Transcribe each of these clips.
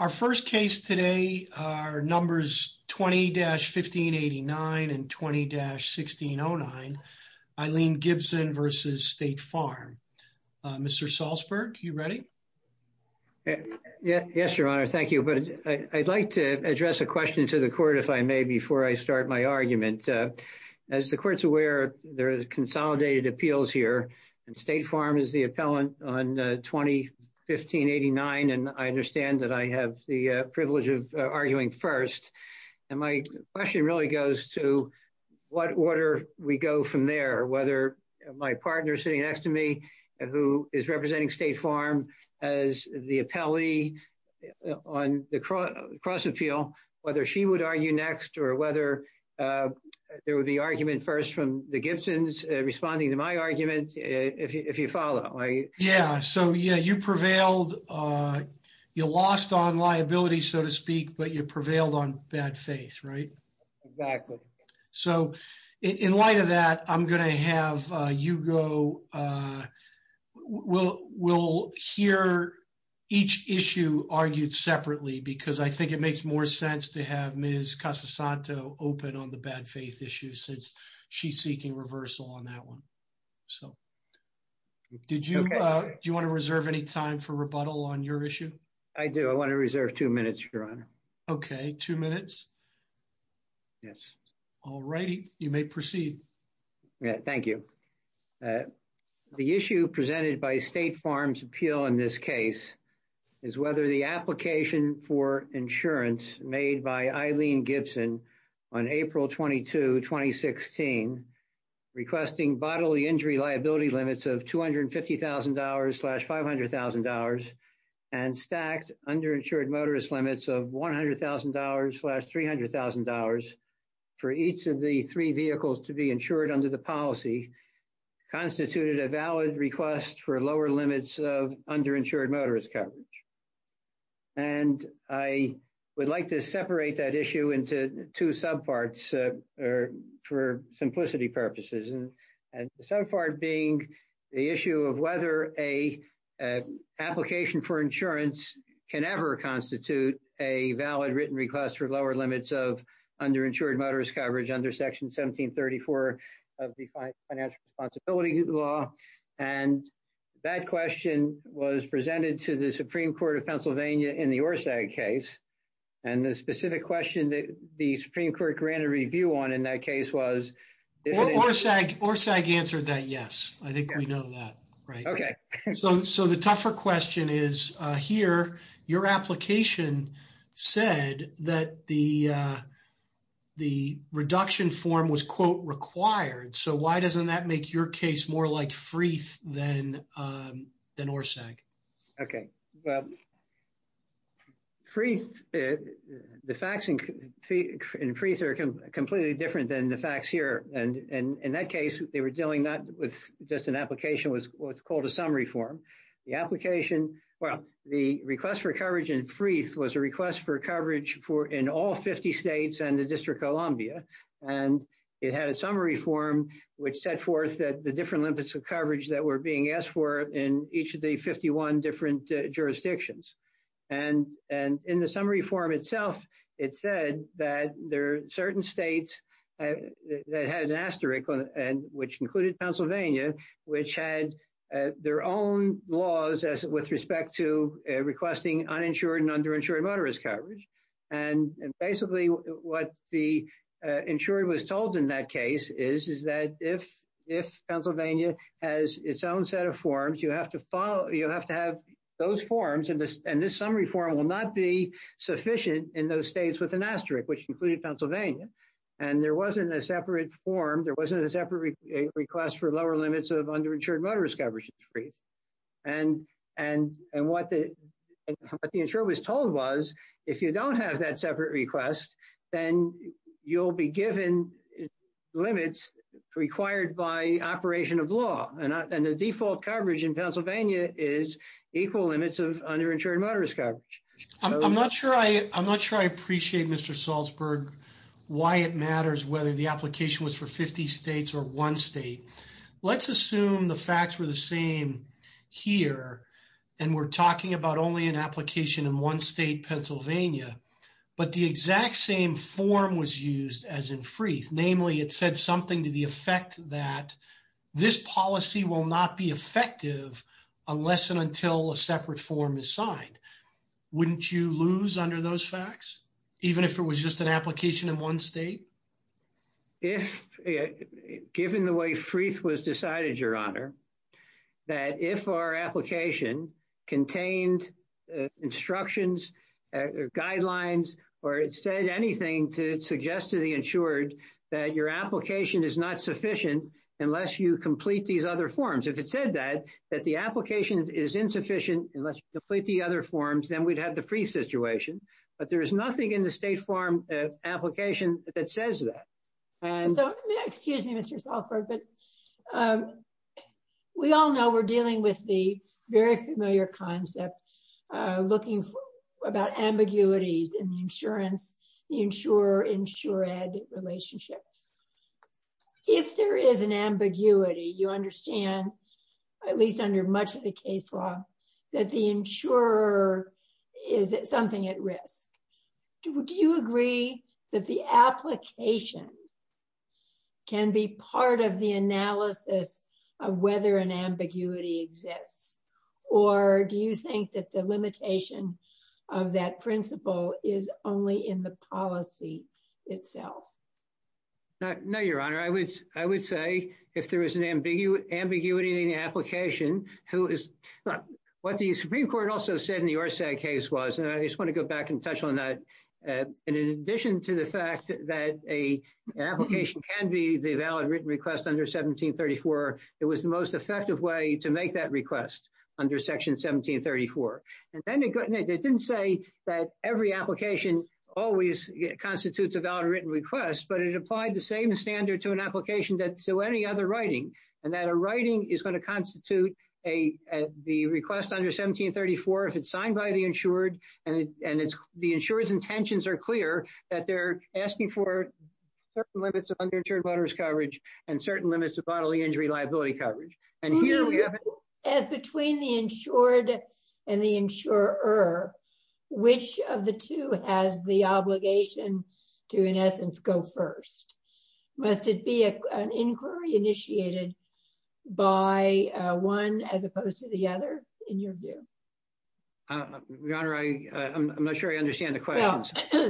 Our first case today are numbers 20-1589 and 20-1609, Eileen Gibson v. State Farm. Mr. Salzberg, are you ready? Yes, Your Honor. Thank you. I'd like to address a question to the Court, if I may, before I start my argument. As the Court is aware, there are consolidated appeals here, and State Farm is the appellant on 20-1589. I understand that I have the privilege of arguing first. My question really goes to what order we go from there, whether my partner sitting next to me, who is representing State Farm as the appellee on the cross-appeal, whether she would argue next, or whether there would be argument first from the Gibsons responding to my argument, if you follow. Yeah, so you prevailed. You lost on liability, so to speak, but you prevailed on bad faith, right? Exactly. So in light of that, I'm going to have Hugo hear each issue argued separately, because I think it makes more sense to have Ms. Casasanto open on the bad faith issue, since she's seeking reversal on that one. Do you want to reserve any time for rebuttal on your issue? I do. I want to reserve two minutes, Your Honor. Okay, two minutes. Yes. All righty. You may proceed. Thank you. The issue presented by State Farm's appeal in this case is whether the application for insurance made by Eileen Gibson on April 22, 2016, requesting bodily injury liability limits of $250,000-$500,000 and stacked underinsured motorist limits of $100,000-$300,000 for each of the three vehicles to be insured under the policy constituted a valid request for lower limits of underinsured motorist coverage. And I would like to separate that issue into two subparts for simplicity purposes, and the subpart being the issue of whether an application for insurance can ever constitute a valid written request for lower limits of underinsured motorist coverage under Section 1734 of the Financial Responsibility Law. And that question was presented to the Supreme Court of Pennsylvania in the ORSAG case, and the specific question that the Supreme Court granted review on in that case was… ORSAG answered that yes. I think we know that. Okay. So the tougher question is, here, your application said that the reduction form was, quote, required. So why doesn't that make your case more like Freeth than ORSAG? Okay. Well, Freeth…the facts in Freeth are completely different than the facts here. And in that case, they were dealing not with just an application, what's called a summary form. The application…well, the request for coverage in Freeth was a request for coverage in all 50 states and the District of Columbia, and it had a summary form which set forth the different limits of coverage that were being asked for in each of the 51 different jurisdictions. And in the summary form itself, it said that there are certain states that had an asterisk, which included Pennsylvania, which had their own laws with respect to requesting uninsured and underinsured motorist coverage. And basically, what the insurer was told in that case is that if Pennsylvania has its own set of forms, you have to have those forms, and this summary form will not be sufficient in those states with an asterisk, which included Pennsylvania. And there wasn't a separate form. There wasn't a separate request for lower limits of underinsured motorist coverage in Freeth. And what the insurer was told was if you don't have that separate request, then you'll be given limits required by operation of law. And the default coverage in Pennsylvania is equal limits of underinsured motorist coverage. I'm not sure I appreciate, Mr. Salzberg, why it matters whether the application was for 50 states or one state. Let's assume the facts were the same here, and we're talking about only an application in one state, Pennsylvania, but the exact same form was used as in Freeth. Namely, it said something to the effect that this policy will not be effective unless and until a separate form is signed. Wouldn't you lose under those facts, even if it was just an application in one state? Given the way Freeth was decided, Your Honor, that if our application contained instructions, guidelines, or it said anything to suggest to the insured that your application is not sufficient unless you complete these other forms. If it said that, that the application is insufficient unless you complete the other forms, then we'd have the Freeth situation. But there is nothing in the State Farm application that says that. Excuse me, Mr. Salzberg, but we all know we're dealing with the very familiar concept, looking about ambiguities in the insurance, the insurer-insured relationship. If there is an ambiguity, you understand, at least under much of the case law, that the insurer is something at risk. Do you agree that the application can be part of the analysis of whether an ambiguity exists? Or do you think that the limitation of that principle is only in the policy itself? No, Your Honor, I would say if there is an ambiguity in the application, who is, what the Supreme Court also said in the Orsag case was, and I just want to go back and touch on that. In addition to the fact that an application can be the valid written request under 1734, it was the most effective way to make that request under Section 1734. And then it didn't say that every application always constitutes a valid written request, but it applied the same standard to an application that to any other writing, and that a writing is going to constitute the request under 1734 if it's signed by the insured, and the insurer's intentions are clear that they're asking for certain limits of underinsured voters' coverage and certain limits of bodily injury liability coverage. And here we have it. As between the insured and the insurer, which of the two has the obligation to, in essence, go first? Must it be an inquiry initiated by one as opposed to the other, in your view? Your Honor, I'm not sure I understand the question. Well,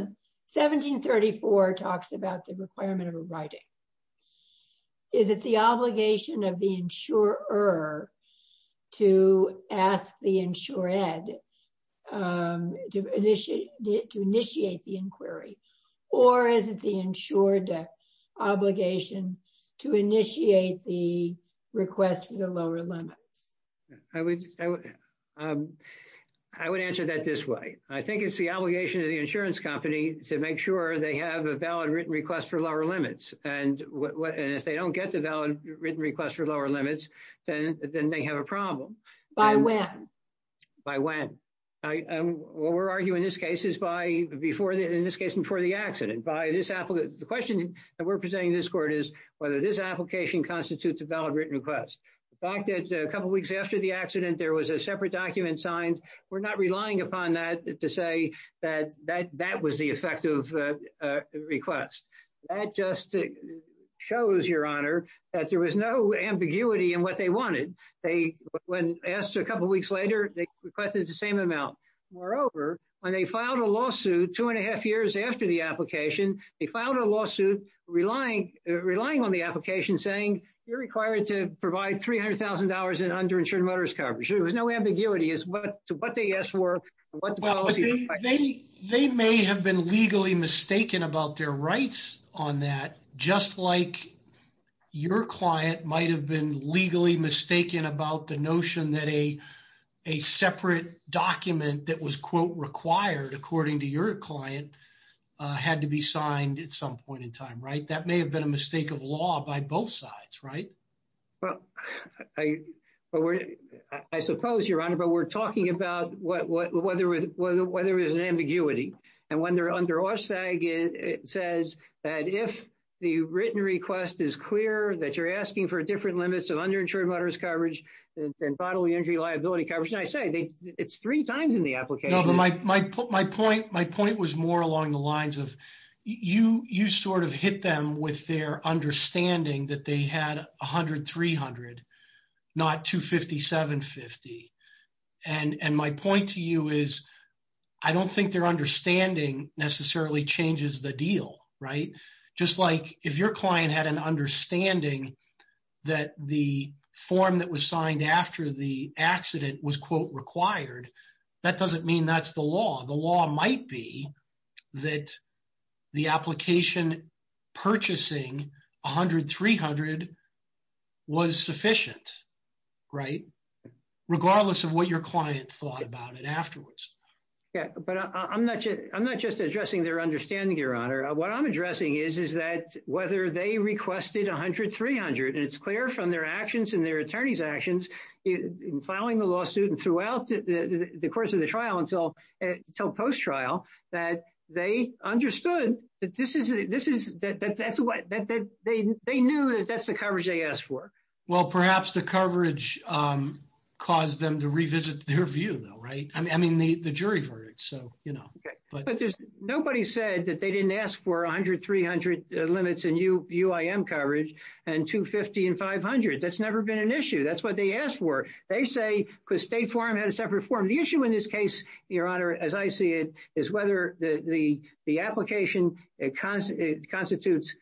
1734 talks about the requirement of a writing. Is it the obligation of the insurer to ask the insured to initiate the inquiry, or is it the insured obligation to initiate the request for the lower limits? I would answer that this way. I think it's the obligation of the insurance company to make sure they have a valid written request for lower limits, and if they don't get the valid written request for lower limits, then they have a problem. By when? By when. What we're arguing in this case is in this case before the accident. The question that we're presenting to this Court is whether this application constitutes a valid written request. The fact that a couple weeks after the accident there was a separate document signed, we're not relying upon that to say that that was the effective request. That just shows, Your Honor, that there was no ambiguity in what they wanted. When asked a couple weeks later, they requested the same amount. Moreover, when they filed a lawsuit two and a half years after the application, they filed a lawsuit relying on the application saying, you're required to provide $300,000 in underinsured motorist coverage. There was no ambiguity as to what the yes were. They may have been legally mistaken about their rights on that, just like your client might have been legally mistaken about the notion that a separate document that was, quote, required, according to your client, had to be signed at some point in time, right? That may have been a mistake of law by both sides, right? Well, I suppose, Your Honor, but we're talking about whether there's an ambiguity. And when they're under OSSAG, it says that if the written request is clear that you're asking for different limits of underinsured motorist coverage and bodily injury liability coverage, I say it's three times in the application. No, but my point was more along the lines of you sort of hit them with their understanding that they had $100,000, $300,000, not $250,000, $750,000. And my point to you is I don't think their understanding necessarily changes the deal, right? Just like if your client had an understanding that the form that was signed after the accident was, quote, required, that doesn't mean that's the law. The law might be that the application purchasing $100,000, $300,000 was sufficient, right, regardless of what your client thought about it afterwards. Yeah, but I'm not just addressing their understanding, Your Honor. What I'm addressing is, is that whether they requested $100,000, $300,000, and it's clear from their actions and their attorney's actions in filing the lawsuit and throughout the course of the trial until post-trial that they understood that they knew that that's the coverage they asked for. Well, perhaps the coverage caused them to revisit their view, though, right? I mean, the jury verdict, so, you know. Nobody said that they didn't ask for $100,000, $300,000 limits in UIM coverage and $250,000 and $500,000. That's never been an issue. That's what they asked for. They say because State Farm had a separate form. The issue in this case, Your Honor, as I see it, is whether the application constitutes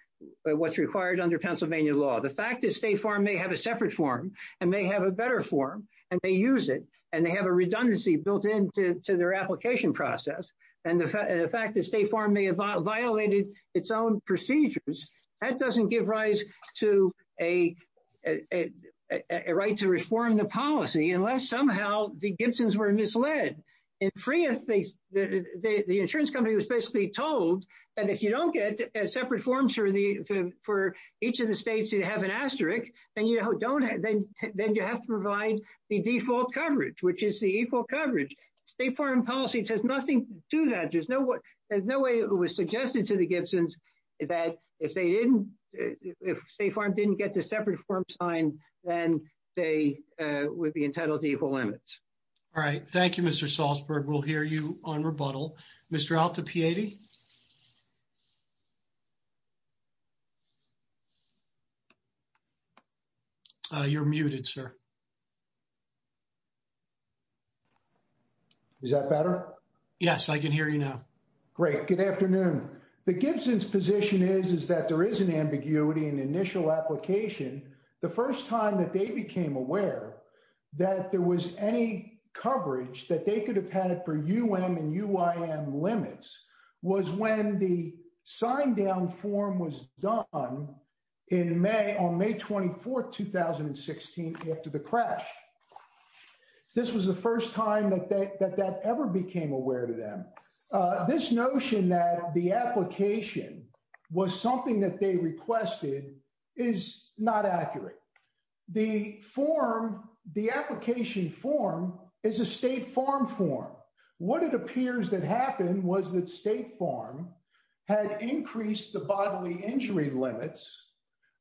what's required under Pennsylvania law. The fact that State Farm may have a separate form and may have a better form, and they use it, and they have a redundancy built into their application process, and the fact that State Farm may have violated its own procedures, that doesn't give rise to a right to reform the policy unless somehow the Gibsons were misled. In Freeth, the insurance company was basically told that if you don't get separate forms for each of the states that have an asterisk, then you have to provide the default coverage, which is the equal coverage. State Farm policy says nothing to that. There's no way it was suggested to the Gibsons that if State Farm didn't get the separate form signed, then they would be entitled to equal limits. All right. Thank you, Mr. Salzberg. We'll hear you on rebuttal. Mr. Altapiedi? You're muted, sir. Is that better? Yes, I can hear you now. Great. Good afternoon. The Gibsons' position is that there is an ambiguity in the initial application. The first time that they became aware that there was any coverage that they could have had for UM and UIM limits was when the signed-down form was done on May 24, 2016, after the crash. This was the first time that that ever became aware to them. This notion that the application was something that they requested is not accurate. The form, the application form, is a State Farm form. What it appears that happened was that State Farm had increased the bodily injury limits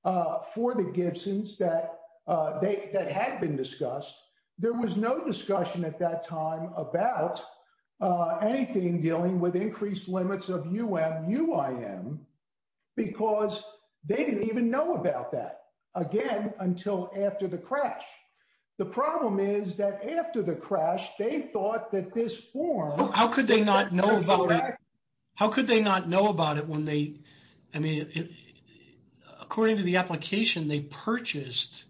for the Gibsons that had been discussed. There was no discussion at that time about anything dealing with increased limits of UM-UIM because they didn't even know about that, again, until after the crash. The problem is that after the crash, they thought that this form… How could they not know about it? I mean, according to the application, they purchased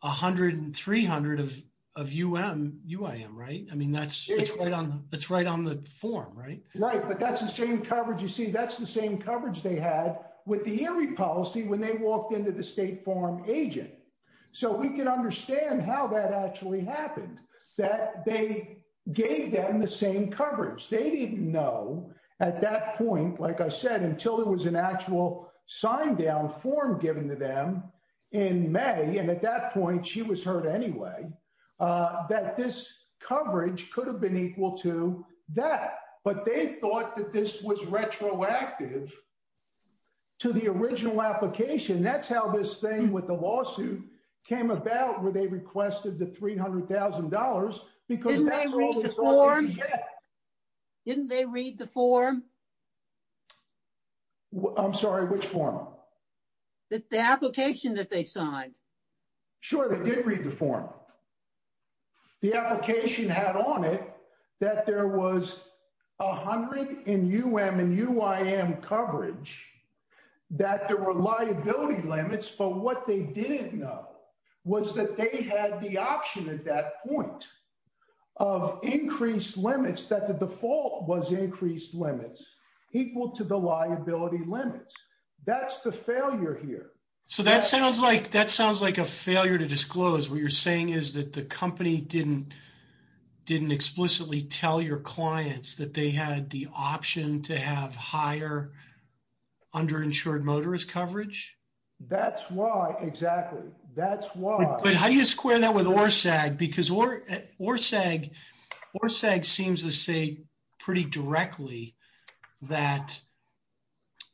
100 and 300 of UM-UIM, right? I mean, that's right on the form, right? Right, but that's the same coverage. You see, that's the same coverage they had with the injury policy when they walked into the State Farm agent. So we can understand how that actually happened, that they gave them the same coverage. They didn't know at that point, like I said, until there was an actual signed-down form given to them in May. And at that point, she was hurt anyway, that this coverage could have been equal to that. But they thought that this was retroactive to the original application. That's how this thing with the lawsuit came about, where they requested the $300,000, because that's all they got. Didn't they read the form? Didn't they read the form? I'm sorry, which form? The application that they signed. Sure, they did read the form. The application had on it that there was 100 in UM-UIM coverage, that there were liability limits. But what they didn't know was that they had the option at that point of increased limits, that the default was increased limits, equal to the liability limits. That's the failure here. So that sounds like a failure to disclose. What you're saying is that the company didn't explicitly tell your clients that they had the option to have higher underinsured motorist coverage? That's why, exactly. That's why. But how do you square that with ORSAG? Because ORSAG seems to say pretty directly that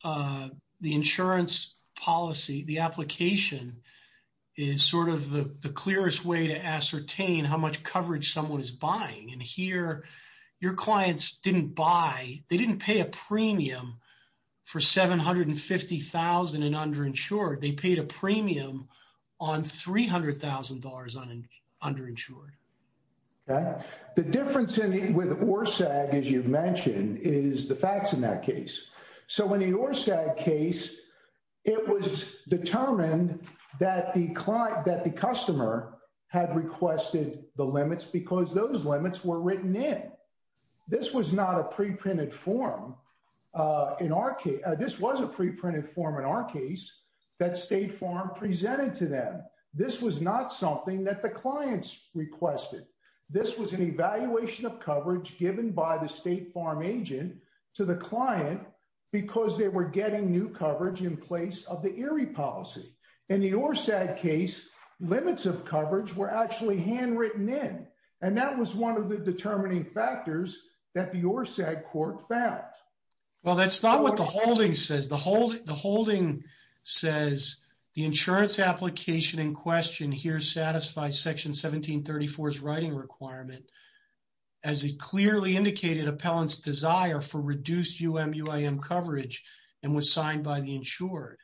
the insurance policy, the application, is sort of the clearest way to ascertain how much coverage someone is buying. And here, your clients didn't buy, they didn't pay a premium for $750,000 in underinsured. They paid a premium on $300,000 underinsured. Okay. The difference with ORSAG, as you've mentioned, is the facts in that case. So in the ORSAG case, it was determined that the client, that the customer had requested the limits because those limits were written in. This was not a preprinted form. This was a preprinted form in our case that State Farm presented to them. This was not something that the clients requested. This was an evaluation of coverage given by the State Farm agent to the client because they were getting new coverage in place of the ERIE policy. In the ORSAG case, limits of coverage were actually handwritten in. And that was one of the determining factors that the ORSAG court found. Well, that's not what the holding says. The holding says the insurance application in question here satisfies Section 1734's writing requirement as it clearly indicated appellant's desire for reduced UM-UIM coverage and was signed by the insured.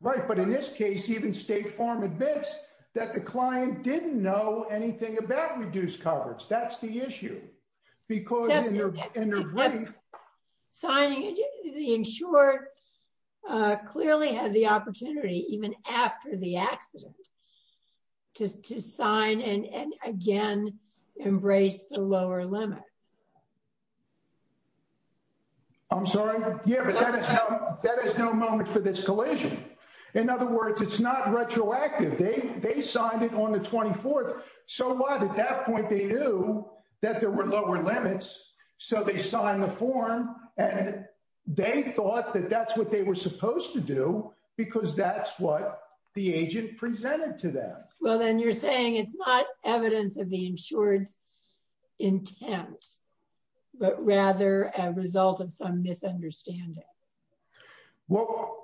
Right. But in this case, even State Farm admits that the client didn't know anything about reduced coverage. That's the issue. Because in their brief. Signing it, the insured clearly had the opportunity, even after the accident, to sign and, again, embrace the lower limit. I'm sorry? Yeah, but that is no moment for this collision. In other words, it's not retroactive. They signed it on the 24th. So what? At that point, they knew that there were lower limits. So they signed the form. And they thought that that's what they were supposed to do because that's what the agent presented to them. Well, then you're saying it's not evidence of the insured's intent, but rather a result of some misunderstanding. Well,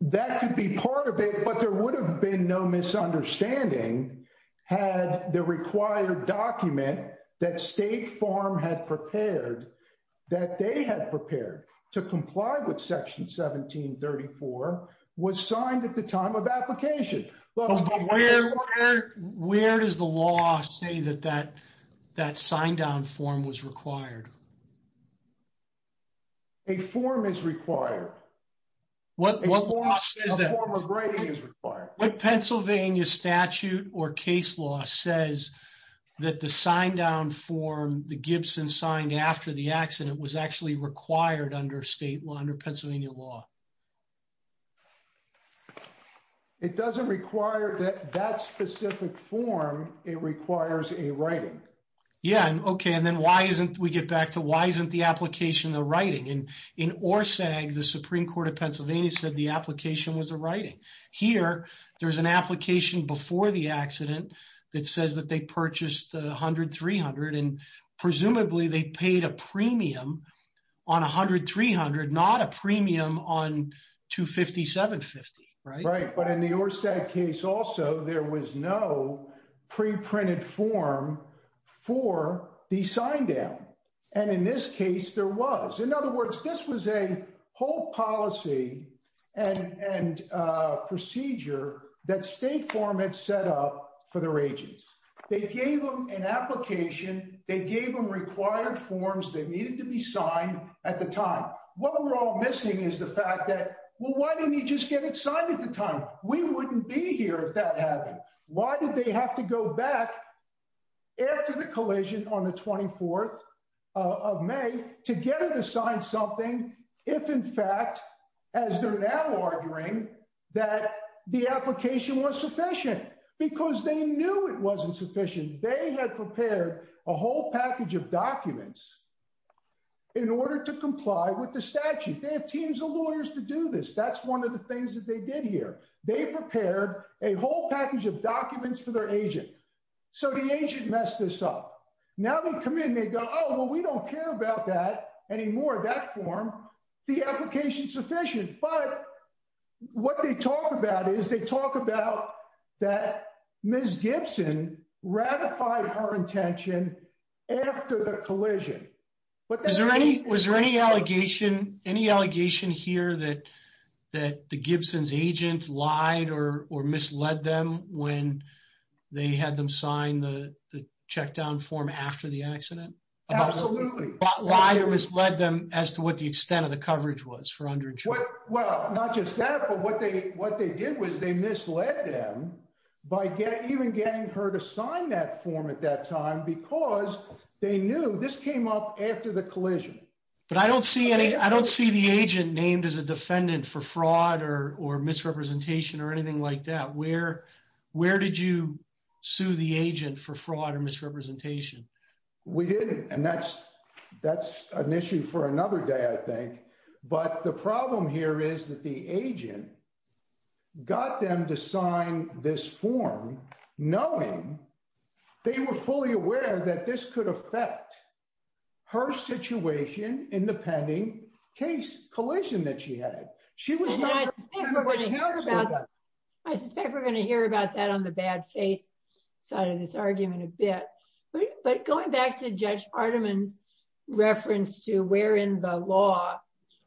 that could be part of it. But there would have been no misunderstanding had the required document that State Farm had prepared, that they had prepared to comply with Section 1734, was signed at the time of application. Where does the law say that that sign-down form was required? A form is required. What law says that? A form of writing is required. What Pennsylvania statute or case law says that the sign-down form the Gibson signed after the accident was actually required under Pennsylvania law? It doesn't require that that specific form. It requires a writing. Yeah. Okay. And then why isn't we get back to why isn't the application the writing? And in ORSAG, the Supreme Court of Pennsylvania said the application was a writing. Here, there's an application before the accident that says that they purchased 100-300, and presumably they paid a premium on 100-300, not a premium on 250-750, right? Right. But in the ORSAG case also, there was no pre-printed form for the sign-down. And in this case, there was. In other words, this was a whole policy and procedure that State Farm had set up for their agents. They gave them an application. They gave them required forms that needed to be signed at the time. What we're all missing is the fact that, well, why didn't he just get it signed at the time? We wouldn't be here if that happened. Why did they have to go back after the collision on the 24th of May to get it assigned something if, in fact, as they're now arguing, that the application was sufficient? Because they knew it wasn't sufficient. They had prepared a whole package of documents in order to comply with the statute. They have teams of lawyers to do this. That's one of the things that they did here. They prepared a whole package of documents for their agent. So the agent messed this up. Now they come in and they go, oh, well, we don't care about that anymore, that form. The application's sufficient. But what they talk about is they talk about that Ms. Gibson ratified her intention after the collision. Was there any allegation here that the Gibson's agent lied or misled them when they had them sign the check down form after the accident? Absolutely. Lied or misled them as to what the extent of the coverage was for under insurance? Well, not just that, but what they did was they misled them by even getting her to sign that form at that time because they knew this came up after the collision. But I don't see the agent named as a defendant for fraud or misrepresentation or anything like that. Where did you sue the agent for fraud or misrepresentation? We didn't. And that's an issue for another day, I think. But the problem here is that the agent got them to sign this form knowing they were fully aware that this could affect her situation in the pending case collision that she had. I suspect we're going to hear about that on the bad faith side of this argument a bit. But going back to Judge Partiman's reference to where in the law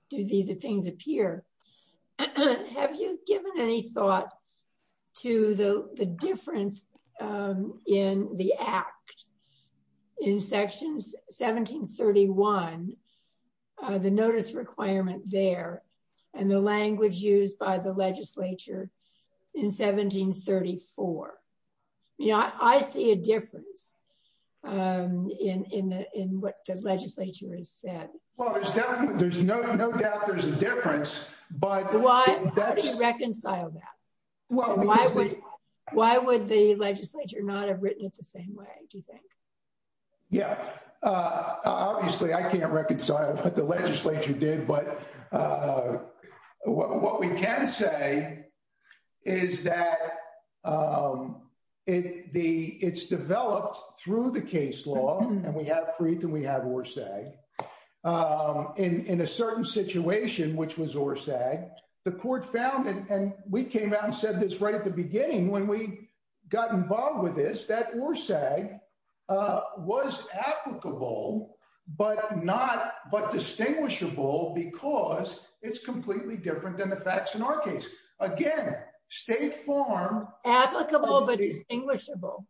do these things appear, have you given any thought to the difference in the act in sections 1731, the notice requirement there, and the language used by the legislature in 1734? I see a difference in what the legislature has said. Well, there's no doubt there's a difference. How do you reconcile that? Why would the legislature not have written it the same way, do you think? Yeah. Obviously, I can't reconcile what the legislature did. But what we can say is that it's developed through the case law. And we have Freeth and we have Orsag. In a certain situation, which was Orsag, the court found and we came out and said this right at the beginning when we got involved with this, that Orsag was applicable, but not but distinguishable because it's completely different than the facts in our case. Again, State Farm. Applicable but distinguishable.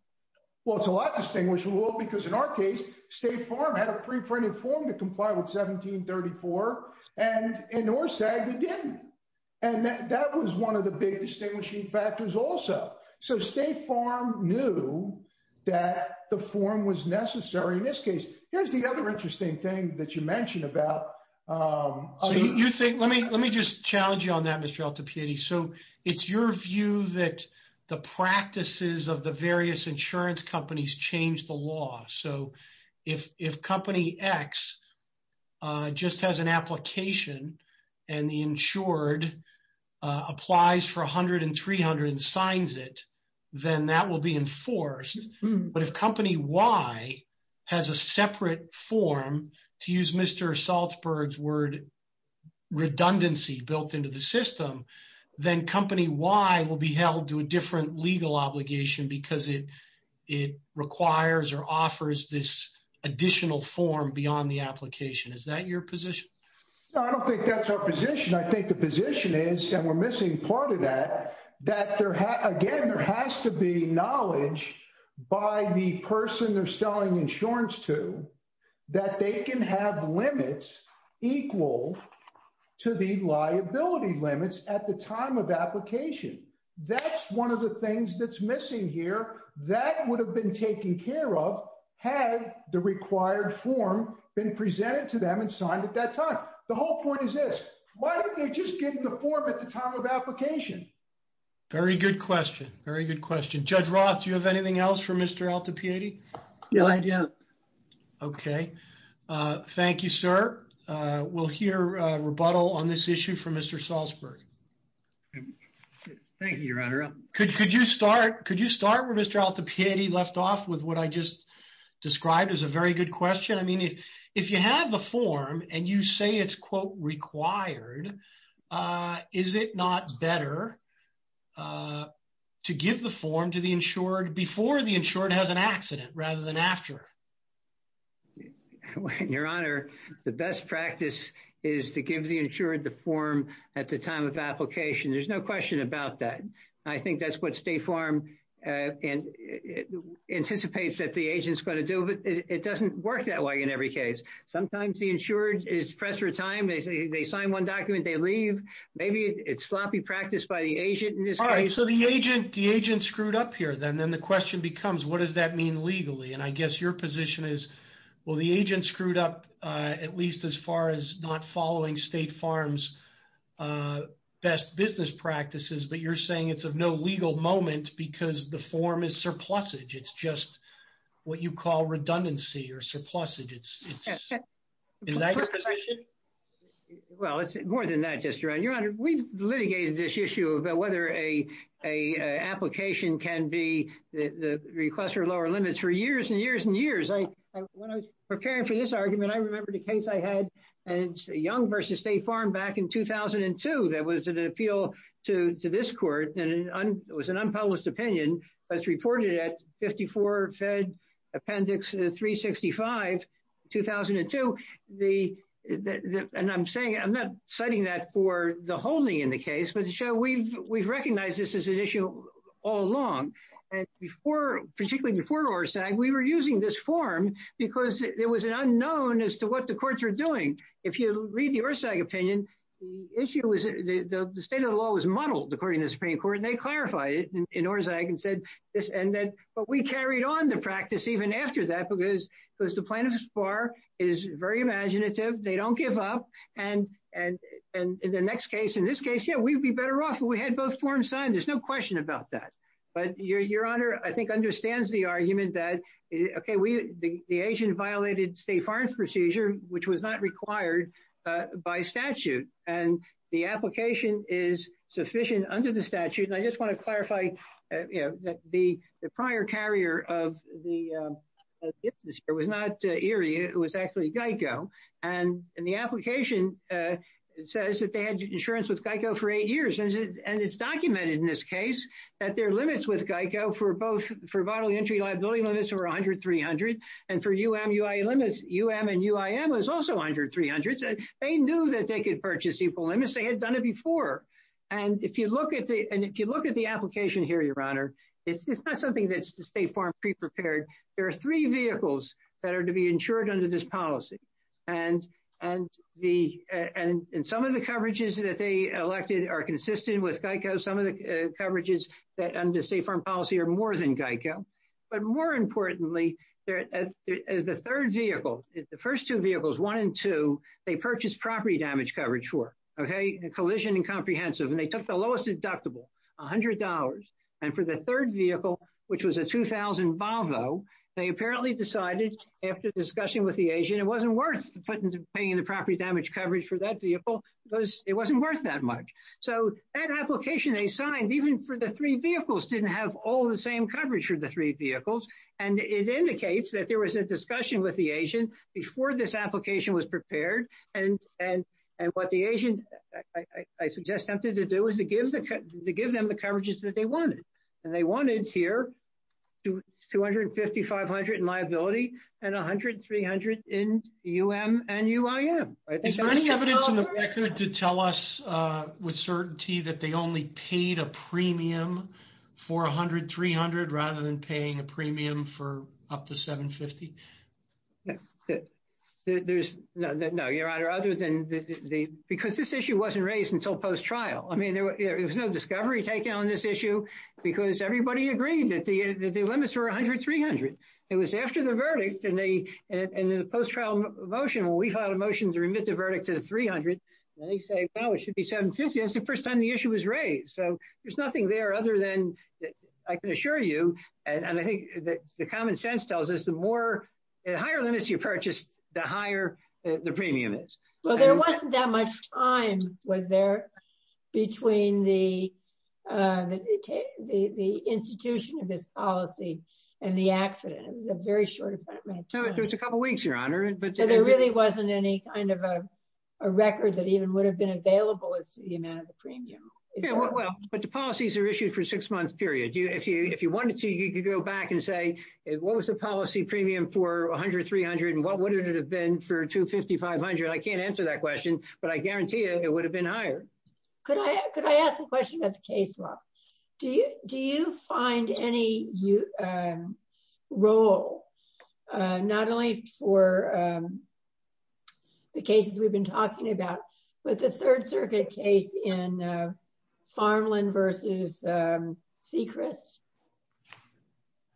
Well, it's a lot distinguishable because in our case, State Farm had a preprinted form to comply with 1734 and in Orsag, they didn't. And that was one of the big distinguishing factors also. So State Farm knew that the form was necessary in this case. Here's the other interesting thing that you mentioned about. You think let me let me just challenge you on that, Mr. Altapiedi. So it's your view that the practices of the various insurance companies change the law. So if Company X just has an application and the insured applies for 100 and 300 and signs it, then that will be enforced. But if Company Y has a separate form, to use Mr. Salzberg's word, redundancy built into the system, then Company Y will be held to a different legal obligation because it requires or offers this additional form beyond the application. Is that your position? I don't think that's our position. I think the position is, and we're missing part of that, that again, there has to be knowledge by the person they're selling insurance to that they can have limits equal to the liability limits at the time of application. That's one of the things that's missing here that would have been taken care of had the required form been presented to them and signed at that time. The whole point is this. Why don't they just get the form at the time of application? Very good question. Very good question. Judge Roth, do you have anything else for Mr. Altapiedi? No, I don't. Okay. Thank you, sir. We'll hear rebuttal on this issue from Mr. Salzberg. Thank you, Your Honor. Could you start where Mr. Altapiedi left off with what I just described as a very good question? I mean, if you have the form and you say it's, quote, required, is it not better to give the form to the insured before the insured has an accident rather than after? Your Honor, the best practice is to give the insured the form at the time of application. There's no question about that. I think that's what State Farm anticipates that the agent's going to do. But it doesn't work that way in every case. Sometimes the insured is pressed for time. They sign one document. They leave. Maybe it's sloppy practice by the agent in this case. All right. So the agent screwed up here. Then the question becomes, what does that mean legally? And I guess your position is, well, the agent screwed up at least as far as not following State Farm's best business practices. But you're saying it's of no legal moment because the form is surplussage. It's just what you call redundancy or surplussage. Is that your position? Well, it's more than that, Justice Duran. Your Honor, we've litigated this issue about whether an application can be the request for lower limits for years and years and years. When I was preparing for this argument, I remembered a case I had. And it's Young v. State Farm back in 2002 that was an appeal to this court. And it was an unpublished opinion that's reported at 54 Fed Appendix 365, 2002. And I'm not citing that for the holding in the case. But we've recognized this as an issue all along. And particularly before ORSAG, we were using this form because there was an unknown as to what the courts were doing. If you read the ORSAG opinion, the state of the law was muddled, according to the Supreme Court. And they clarified it in ORSAG and said this. But we carried on the practice even after that because the plaintiff's bar is very imaginative. They don't give up. And in the next case, in this case, yeah, we'd be better off if we had both forms signed. There's no question about that. But Your Honor, I think, understands the argument that, OK, the agent violated state farm procedure, which was not required by statute. And the application is sufficient under the statute. And I just want to clarify that the prior carrier of the business here was not ERIE. It was actually GEICO. And the application says that they had insurance with GEICO for eight years. And it's documented in this case that their limits with GEICO for both for vital entry liability limits were 100, 300. And for UM, UI limits, UM and UIM was also 100, 300. They knew that they could purchase equal limits. They had done it before. And if you look at the application here, Your Honor, it's not something that's the state farm pre-prepared. There are three vehicles that are to be insured under this policy. And some of the coverages that they elected are consistent with GEICO. Some of the coverages that under state farm policy are more than GEICO. But more importantly, the third vehicle, the first two vehicles, one and two, they purchased property damage coverage for, OK, collision and comprehensive. And they took the lowest deductible, $100. And for the third vehicle, which was a 2000 Volvo, they apparently decided after discussion with the agent, it wasn't worth paying the property damage coverage for that vehicle because it wasn't worth that much. So that application they signed, even for the three vehicles, didn't have all the same coverage for the three vehicles. And it indicates that there was a discussion with the agent before this application was prepared. And what the agent, I suggest them to do is to give them the coverages that they wanted. And they wanted here $250, $500 in liability and $100, $300 in UM and UIM. Is there any evidence in the record to tell us with certainty that they only paid a premium for $100, $300 rather than paying a premium for up to $750? No, Your Honor, other than because this issue wasn't raised until post-trial. I mean, there was no discovery taken on this issue because everybody agreed that the limits were $100, $300. It was after the verdict and the post-trial motion where we filed a motion to remit the verdict to the $300. And they say, well, it should be $750. That's the first time the issue was raised. So there's nothing there other than I can assure you. And I think the common sense tells us the higher limits you purchase, the higher the premium is. Well, there wasn't that much time, was there, between the institution of this policy and the accident. It was a very short amount of time. It was a couple of weeks, Your Honor. But there really wasn't any kind of a record that even would have been available as to the amount of the premium. Yeah, well, but the policies are issued for a six-month period. If you wanted to, you could go back and say, what was the policy premium for $100, $300, and what would it have been for $250, $500? I can't answer that question, but I guarantee you it would have been higher. Could I ask a question about the case law? Do you find any role, not only for the cases we've been talking about, but the Third Circuit case in Farmland versus Sechrist?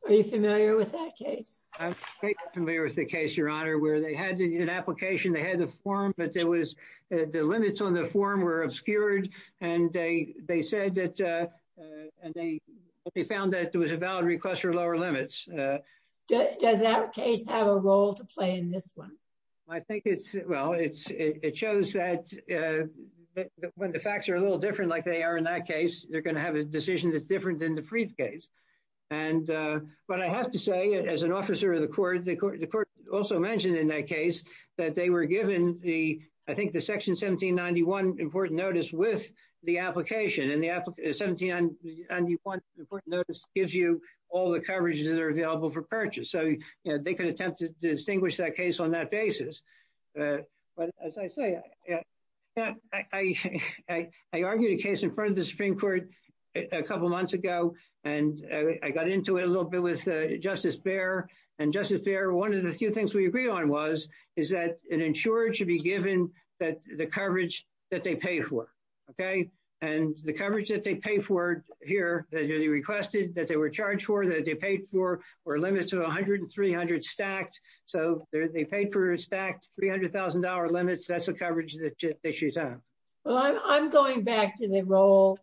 Are you familiar with that case? I'm very familiar with the case, Your Honor, where they had an application. They had the form, but the limits on the form were obscured. And they found that there was a valid request for lower limits. Does that case have a role to play in this one? Well, it shows that when the facts are a little different like they are in that case, they're going to have a decision that's different than the Freed case. But I have to say, as an officer of the court, the court also mentioned in that case that they were given, I think, the Section 1791 important notice with the application. And the 1791 important notice gives you all the coverage that are available for purchase. So they could attempt to distinguish that case on that basis. But as I say, I argued a case in front of the Supreme Court a couple of months ago, and I got into it a little bit with Justice Behr. And Justice Behr, one of the few things we agreed on was, is that an insurer should be given the coverage that they paid for. And the coverage that they paid for here, that they requested, that they were charged for, that they paid for, were limited to 100 and 300 stacked. So they paid for stacked $300,000 limits. That's the coverage that they should have. Well, I'm going back to the role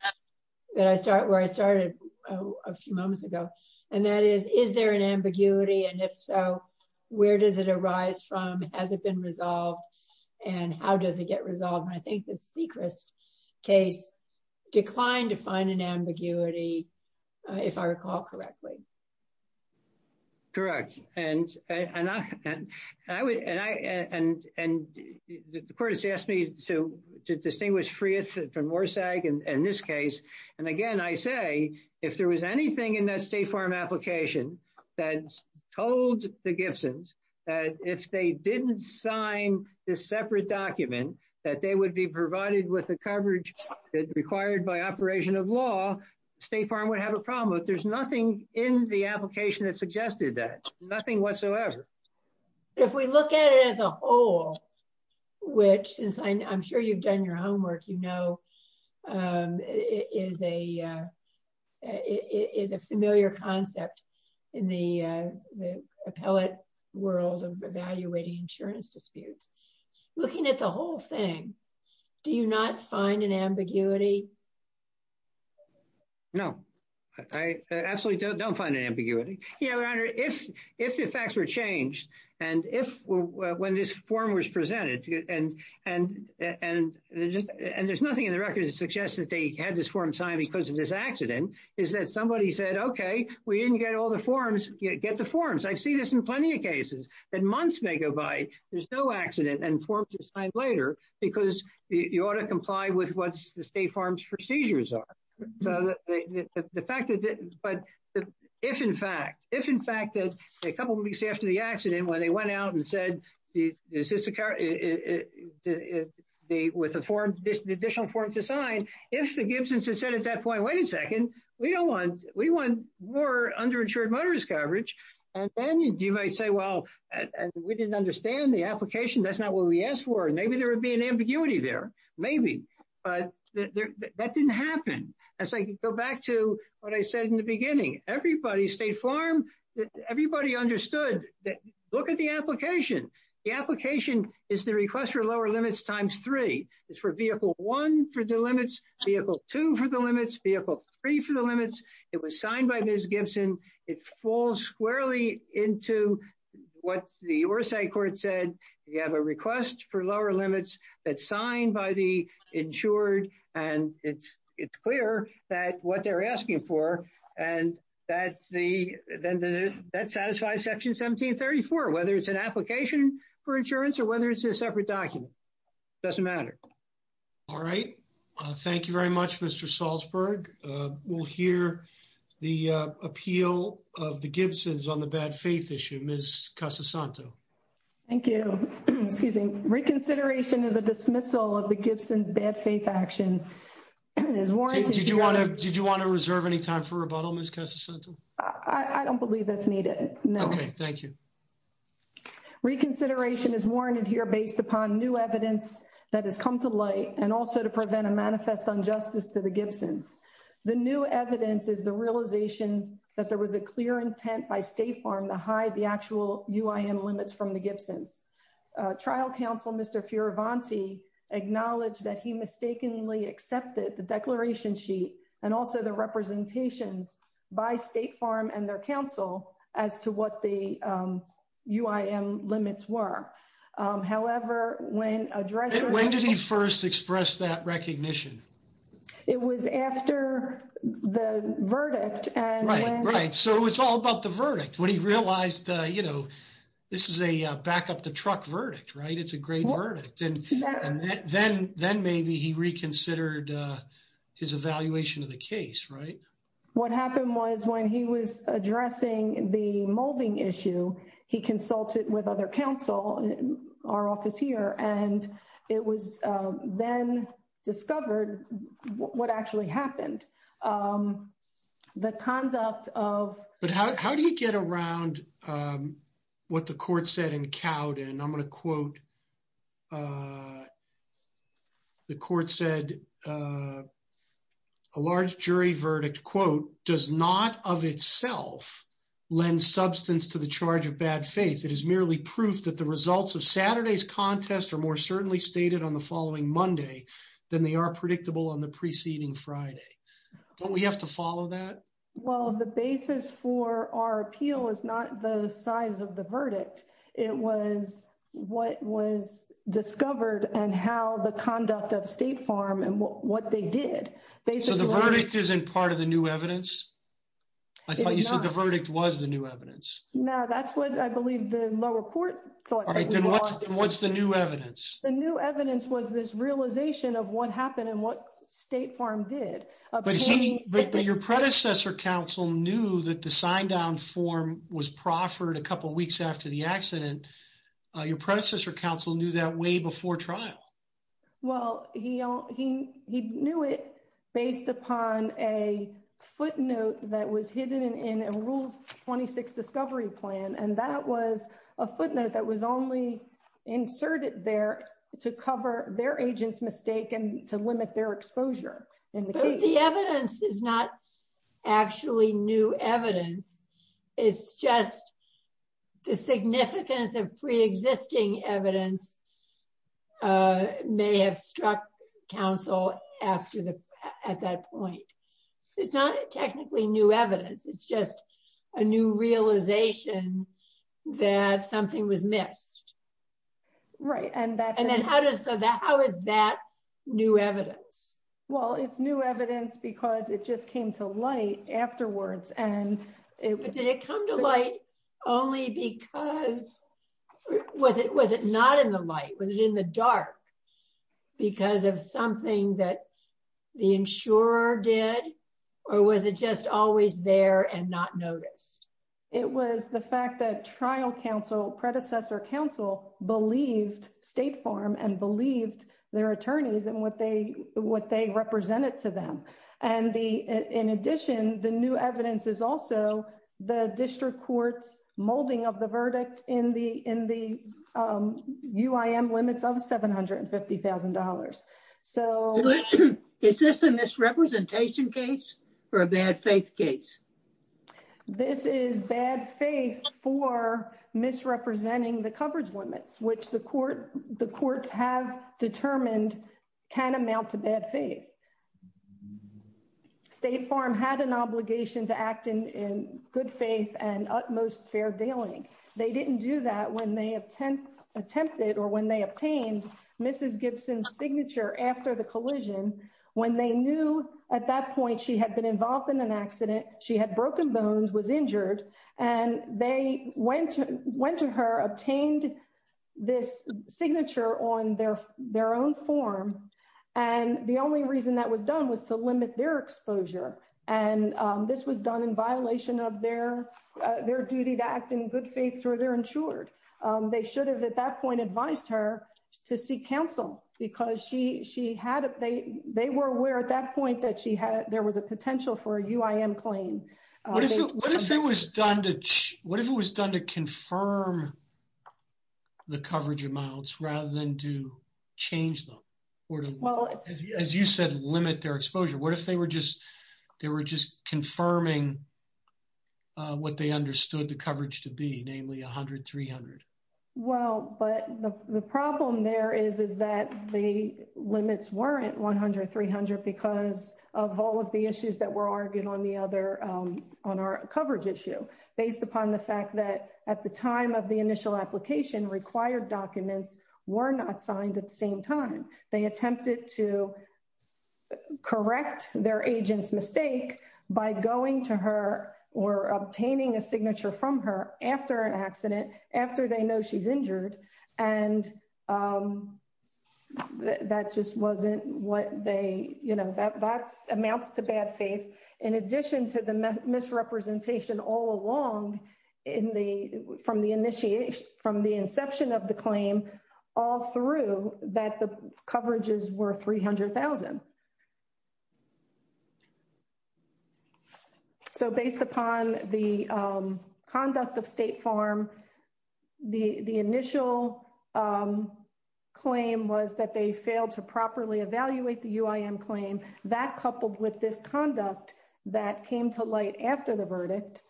that I started, where I started a few moments ago. And that is, is there an ambiguity? And if so, where does it arise from? Has it been resolved? And how does it get resolved? And I think the Sechrist case declined to find an ambiguity, if I recall correctly. Correct. And the court has asked me to distinguish Freeth from Worsag in this case. And again, I say, if there was anything in that State Farm application that told the Gibsons that if they didn't sign this separate document, that they would be provided with the coverage required by operation of law, State Farm would have a problem. But there's nothing in the application that suggested that. Nothing whatsoever. If we look at it as a whole, which, since I'm sure you've done your homework, you know, is a familiar concept in the appellate world of evaluating insurance disputes. Looking at the whole thing, do you not find an ambiguity? No, I absolutely don't find an ambiguity. Your Honor, if the facts were changed, and if when this form was presented, and there's nothing in the record that suggests that they had this form signed because of this accident, is that somebody said, okay, we didn't get all the forms, get the forms. I see this in plenty of cases that months may go by, there's no accident, and forms are signed later because you ought to comply with what the State Farm's procedures are. The fact that, but if in fact, if in fact that a couple of weeks after the accident, when they went out and said, is this a car, with additional forms assigned, if the Gibsons had said at that point, wait a second, we don't want, we want more underinsured motorist coverage. And then you might say, well, we didn't understand the application. That's not what we asked for. Maybe there would be an ambiguity there. Maybe. But that didn't happen. As I go back to what I said in the beginning, everybody, State Farm, everybody understood that, look at the application. The application is the request for lower limits times three. It's for vehicle one for the limits, vehicle two for the limits, vehicle three for the limits. It was signed by Ms. Gibson. It falls squarely into what the Orsay court said. You have a request for lower limits that's signed by the insured, and it's clear that what they're asking for, and that's the, that satisfies section 1734, whether it's an application for insurance or whether it's a separate document. Doesn't matter. All right. Thank you very much, Mr. Salzberg. We'll hear the appeal of the Gibsons on the bad faith issue. Ms. Casasanto. Thank you. Excuse me. Reconsideration of the dismissal of the Gibsons bad faith action is warranted. Did you want to reserve any time for rebuttal, Ms. Casasanto? I don't believe that's needed. No. Okay. Thank you. Reconsideration is warranted here based upon new evidence that has come to light and also to prevent a manifest injustice to the Gibsons. The new evidence is the realization that there was a clear intent by State Farm to hide the actual UIM limits from the Gibsons. Trial counsel, Mr. Fioravanti, acknowledged that he mistakenly accepted the declaration sheet and also the representations by State Farm and their counsel as to what the UIM limits were. However, when addressed. When did he first express that recognition? It was after the verdict. Right, right. So it was all about the verdict when he realized, you know, this is a back-up-the-truck verdict, right? It's a great verdict. And then maybe he reconsidered his evaluation of the case, right? What happened was when he was addressing the molding issue, he consulted with other counsel in our office here, and it was then discovered what actually happened. The conduct of. But how do you get around what the court said in Cowden? And I'm going to quote the court said a large jury verdict, quote, does not of itself lend substance to the charge of bad faith. It is merely proof that the results of Saturday's contest are more certainly stated on the following Monday than they are predictable on the preceding Friday. Don't we have to follow that? Well, the basis for our appeal is not the size of the verdict. It was what was discovered and how the conduct of State Farm and what they did. So the verdict isn't part of the new evidence? I thought you said the verdict was the new evidence. No, that's what I believe the lower court thought. What's the new evidence? The new evidence was this realization of what happened and what State Farm did. But your predecessor counsel knew that the sign down form was proffered a couple of weeks after the accident. Your predecessor counsel knew that way before trial. Well, he he he knew it based upon a footnote that was hidden in a rule 26 discovery plan. And that was a footnote that was only inserted there to cover their agent's mistake and to limit their exposure. The evidence is not actually new evidence. It's just the significance of pre-existing evidence may have struck counsel after the at that point. It's not technically new evidence. It's just a new realization that something was missed. Right. And then how does that how is that new evidence? Well, it's new evidence because it just came to light afterwards. And did it come to light only because was it was it not in the light? Was it in the dark because of something that the insurer did? Or was it just always there and not noticed? It was the fact that trial counsel predecessor counsel believed State Farm and believed their attorneys and what they what they represented to them. And the in addition, the new evidence is also the district court's molding of the verdict in the in the limits of seven hundred and fifty thousand dollars. So is this a misrepresentation case for a bad faith case? This is bad faith for misrepresenting the coverage limits, which the court the courts have determined can amount to bad faith. State Farm had an obligation to act in good faith and utmost fair dealing. They didn't do that when they have attempted or when they obtained Mrs. Gibson's signature after the collision, when they knew at that point she had been involved in an accident. She had broken bones, was injured, and they went to went to her, obtained this signature on their their own form. And the only reason that was done was to limit their exposure. And this was done in violation of their their duty to act in good faith through their insured. They should have at that point advised her to seek counsel because she she had they they were aware at that point that she had there was a potential for a claim. What if it was done to what if it was done to confirm the coverage amounts rather than to change them? Well, as you said, limit their exposure. What if they were just they were just confirming what they understood the coverage to be, namely one hundred three hundred? Well, but the problem there is, is that the limits weren't one hundred three hundred because of all of the issues that were argued on the other on our coverage issue based upon the fact that at the time of the initial application required documents were not signed at the same time. They attempted to correct their agent's mistake by going to her or obtaining a signature from her after an accident, after they know she's injured. And that just wasn't what they you know, that's amounts to bad faith in addition to the misrepresentation all along in the from the initiation from the inception of the claim all through that the coverages were three hundred thousand. So based upon the conduct of State Farm, the initial claim was that they failed to properly evaluate the UIM claim that coupled with this conduct that came to light after the verdict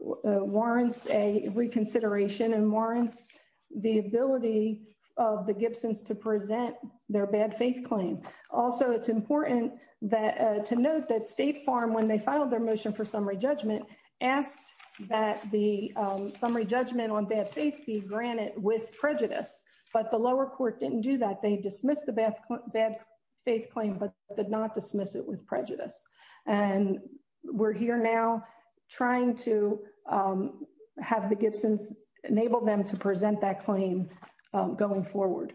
warrants a reconsideration and warrants the ability of the Gibsons to present their bad faith claim. Also, it's important that to note that State Farm, when they filed their motion for summary judgment, asked that the summary judgment on bad faith be granted with prejudice. But the lower court didn't do that. They dismissed the bad faith claim, but did not dismiss it with prejudice. And we're here now trying to have the Gibsons enable them to present that claim going forward.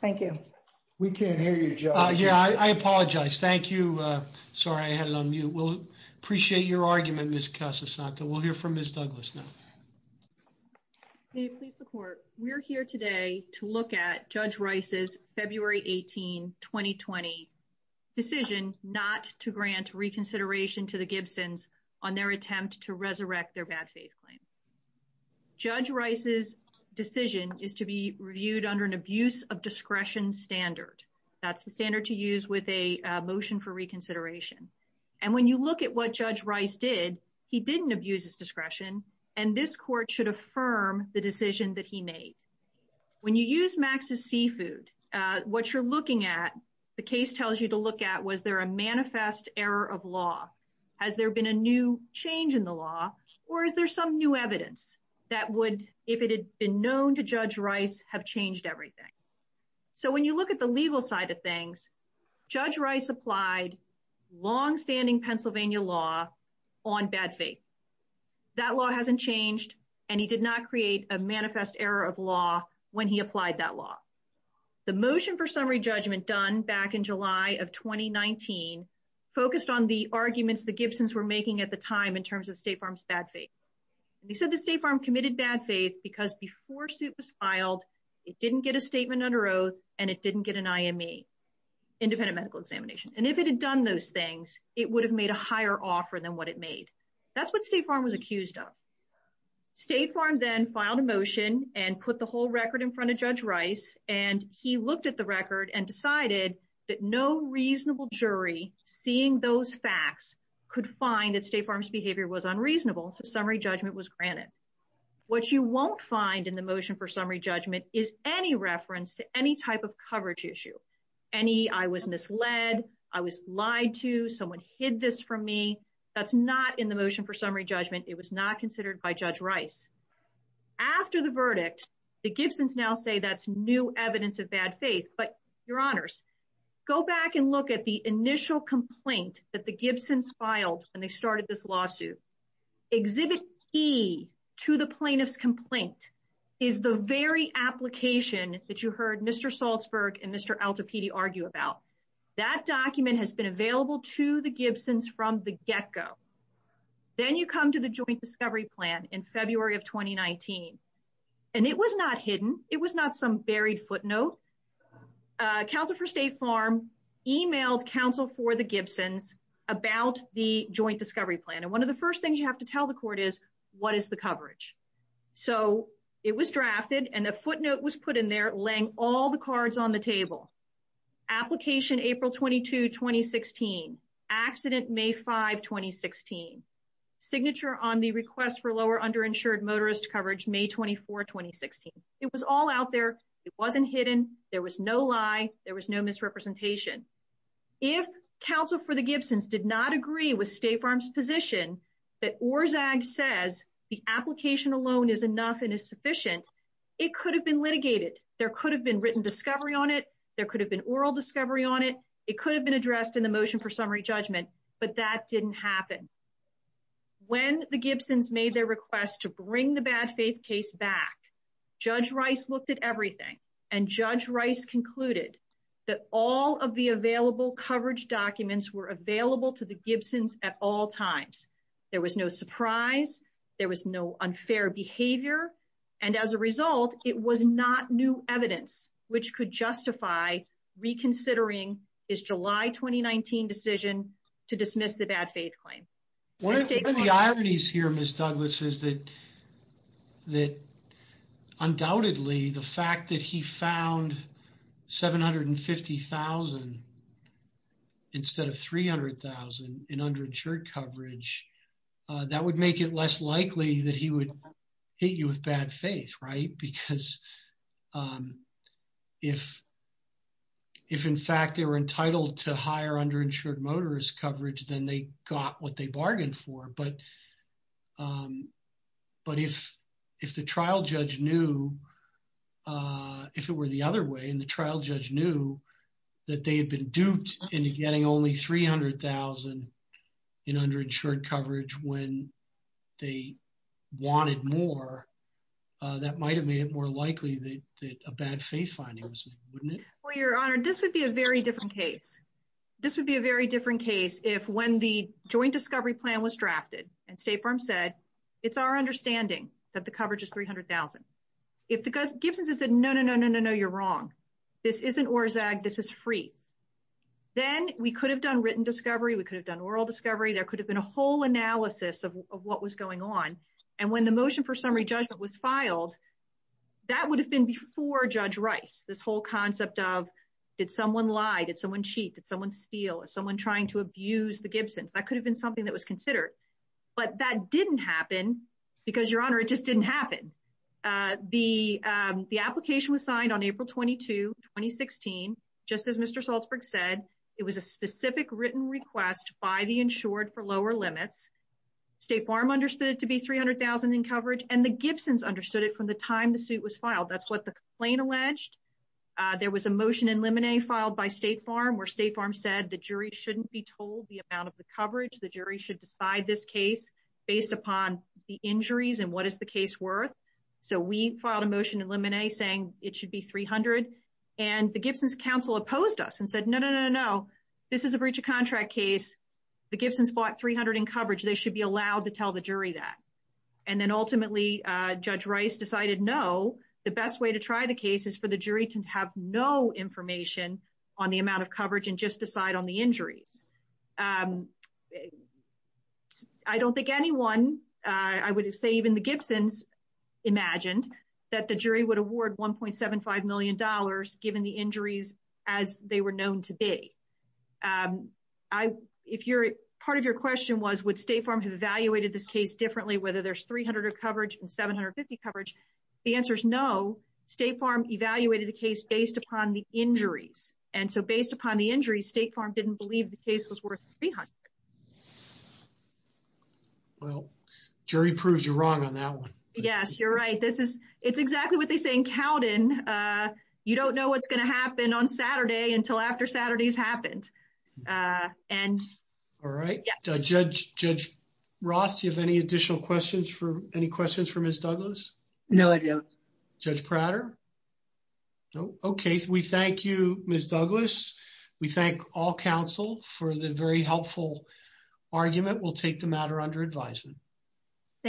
Thank you. We can't hear you. Yeah, I apologize. Thank you. Sorry. I had it on you. We'll appreciate your argument. We'll hear from Miss Douglas. Please support. We're here today to look at Judge Rice's February 18, 2020 decision not to grant reconsideration to the Gibsons on their attempt to resurrect their bad faith claim. Judge Rice's decision is to be reviewed under an abuse of discretion standard. That's the standard to use with a motion for reconsideration. And when you look at what Judge Rice did, he didn't abuse his discretion, and this court should affirm the decision that he made. When you use Max's seafood, what you're looking at, the case tells you to look at, was there a manifest error of law? Has there been a new change in the law, or is there some new evidence that would, if it had been known to Judge Rice, have changed everything? So when you look at the legal side of things, Judge Rice applied longstanding Pennsylvania law on bad faith. That law hasn't changed, and he did not create a manifest error of law when he applied that law. The motion for summary judgment done back in July of 2019 focused on the arguments the Gibsons were making at the time in terms of State Farm's bad faith. They said the State Farm committed bad faith because before suit was filed, it didn't get a statement under oath, and it didn't get an IME, independent medical examination. And if it had done those things, it would have made a higher offer than what it made. That's what State Farm was accused of. State Farm then filed a motion and put the whole record in front of Judge Rice, and he looked at the record and decided that no reasonable jury, seeing those facts, could find that State Farm's behavior was unreasonable, so summary judgment was granted. What you won't find in the motion for summary judgment is any reference to any type of coverage issue, any I was misled, I was lied to, someone hid this from me. That's not in the motion for summary judgment. It was not considered by Judge Rice. After the verdict, the Gibsons now say that's new evidence of bad faith. But, Your Honors, go back and look at the initial complaint that the Gibsons filed when they started this lawsuit. Exhibit P to the plaintiff's complaint is the very application that you heard Mr. Salzberg and Mr. Altapedie argue about. That document has been available to the Gibsons from the get-go. Then you come to the joint discovery plan in February of 2019, and it was not hidden. It was not some buried footnote. Counsel for State Farm emailed counsel for the Gibsons about the joint discovery plan, and one of the first things you have to tell the court is, what is the coverage? So it was drafted, and a footnote was put in there laying all the cards on the table. Application April 22, 2016. Accident May 5, 2016. Signature on the request for lower underinsured motorist coverage May 24, 2016. It was all out there. It wasn't hidden. There was no lie. There was no misrepresentation. If counsel for the Gibsons did not agree with State Farm's position that ORSAG says the application alone is enough and is sufficient, it could have been litigated. There could have been written discovery on it. There could have been oral discovery on it. It could have been addressed in the motion for summary judgment, but that didn't happen. When the Gibsons made their request to bring the bad faith case back, Judge Rice looked at everything, and Judge Rice concluded that all of the available coverage documents were available to the Gibsons at all times. There was no surprise. There was no unfair behavior. And as a result, it was not new evidence which could justify reconsidering his July 2019 decision to dismiss the bad faith claim. One of the ironies here, Ms. Douglas, is that undoubtedly the fact that he found $750,000 instead of $300,000 in underinsured coverage, that would make it less likely that he would hit you with bad faith, right? If, in fact, they were entitled to higher underinsured motorist coverage, then they got what they bargained for. But if the trial judge knew, if it were the other way, and the trial judge knew that they had been duped into getting only $300,000 in underinsured coverage when they wanted more, that might have made it more likely that a bad faith finding was made, wouldn't it? Well, Your Honor, this would be a very different case. This would be a very different case if when the joint discovery plan was drafted and State Farm said, it's our understanding that the coverage is $300,000. If the Gibsons had said, no, no, no, no, no, no, you're wrong. This isn't ORSG. This is free. Then we could have done written discovery. We could have done oral discovery. There could have been a whole analysis of what was going on. And when the motion for summary judgment was filed, that would have been before Judge Rice. This whole concept of did someone lie? Did someone cheat? Did someone steal? Is someone trying to abuse the Gibsons? That could have been something that was considered. But that didn't happen because, Your Honor, it just didn't happen. The application was signed on April 22, 2016. Just as Mr. Salzberg said, it was a specific written request by the insured for lower limits. State Farm understood it to be $300,000 in coverage, and the Gibsons understood it from the time the suit was filed. That's what the complaint alleged. There was a motion in limine filed by State Farm where State Farm said the jury shouldn't be told the amount of the coverage. The jury should decide this case based upon the injuries and what is the case worth. So we filed a motion in limine saying it should be $300,000. And the Gibsons counsel opposed us and said, no, no, no, no, no. This is a breach of contract case. The Gibsons bought $300,000 in coverage. They should be allowed to tell the jury that. And then ultimately, Judge Rice decided, no, the best way to try the case is for the jury to have no information on the amount of coverage and just decide on the injuries. I don't think anyone, I would say even the Gibsons, imagined that the jury would award $1.75 million given the injuries as they were known to be. Part of your question was, would State Farm have evaluated this case differently, whether there's $300,000 of coverage and $750,000 coverage? The answer is no. State Farm evaluated the case based upon the injuries. And so based upon the injuries, State Farm didn't believe the case was worth $300,000. Well, jury proves you're wrong on that one. Yes, you're right. It's exactly what they say in Cowden. You don't know what's going to happen on Saturday until after Saturday's happened. All right. Judge Roth, do you have any additional questions for Ms. Douglas? No, I don't. Judge Prater? No. Okay. We thank you, Ms. Douglas. We thank all counsel for the very helpful argument. We'll take the matter under advisement. Thank you.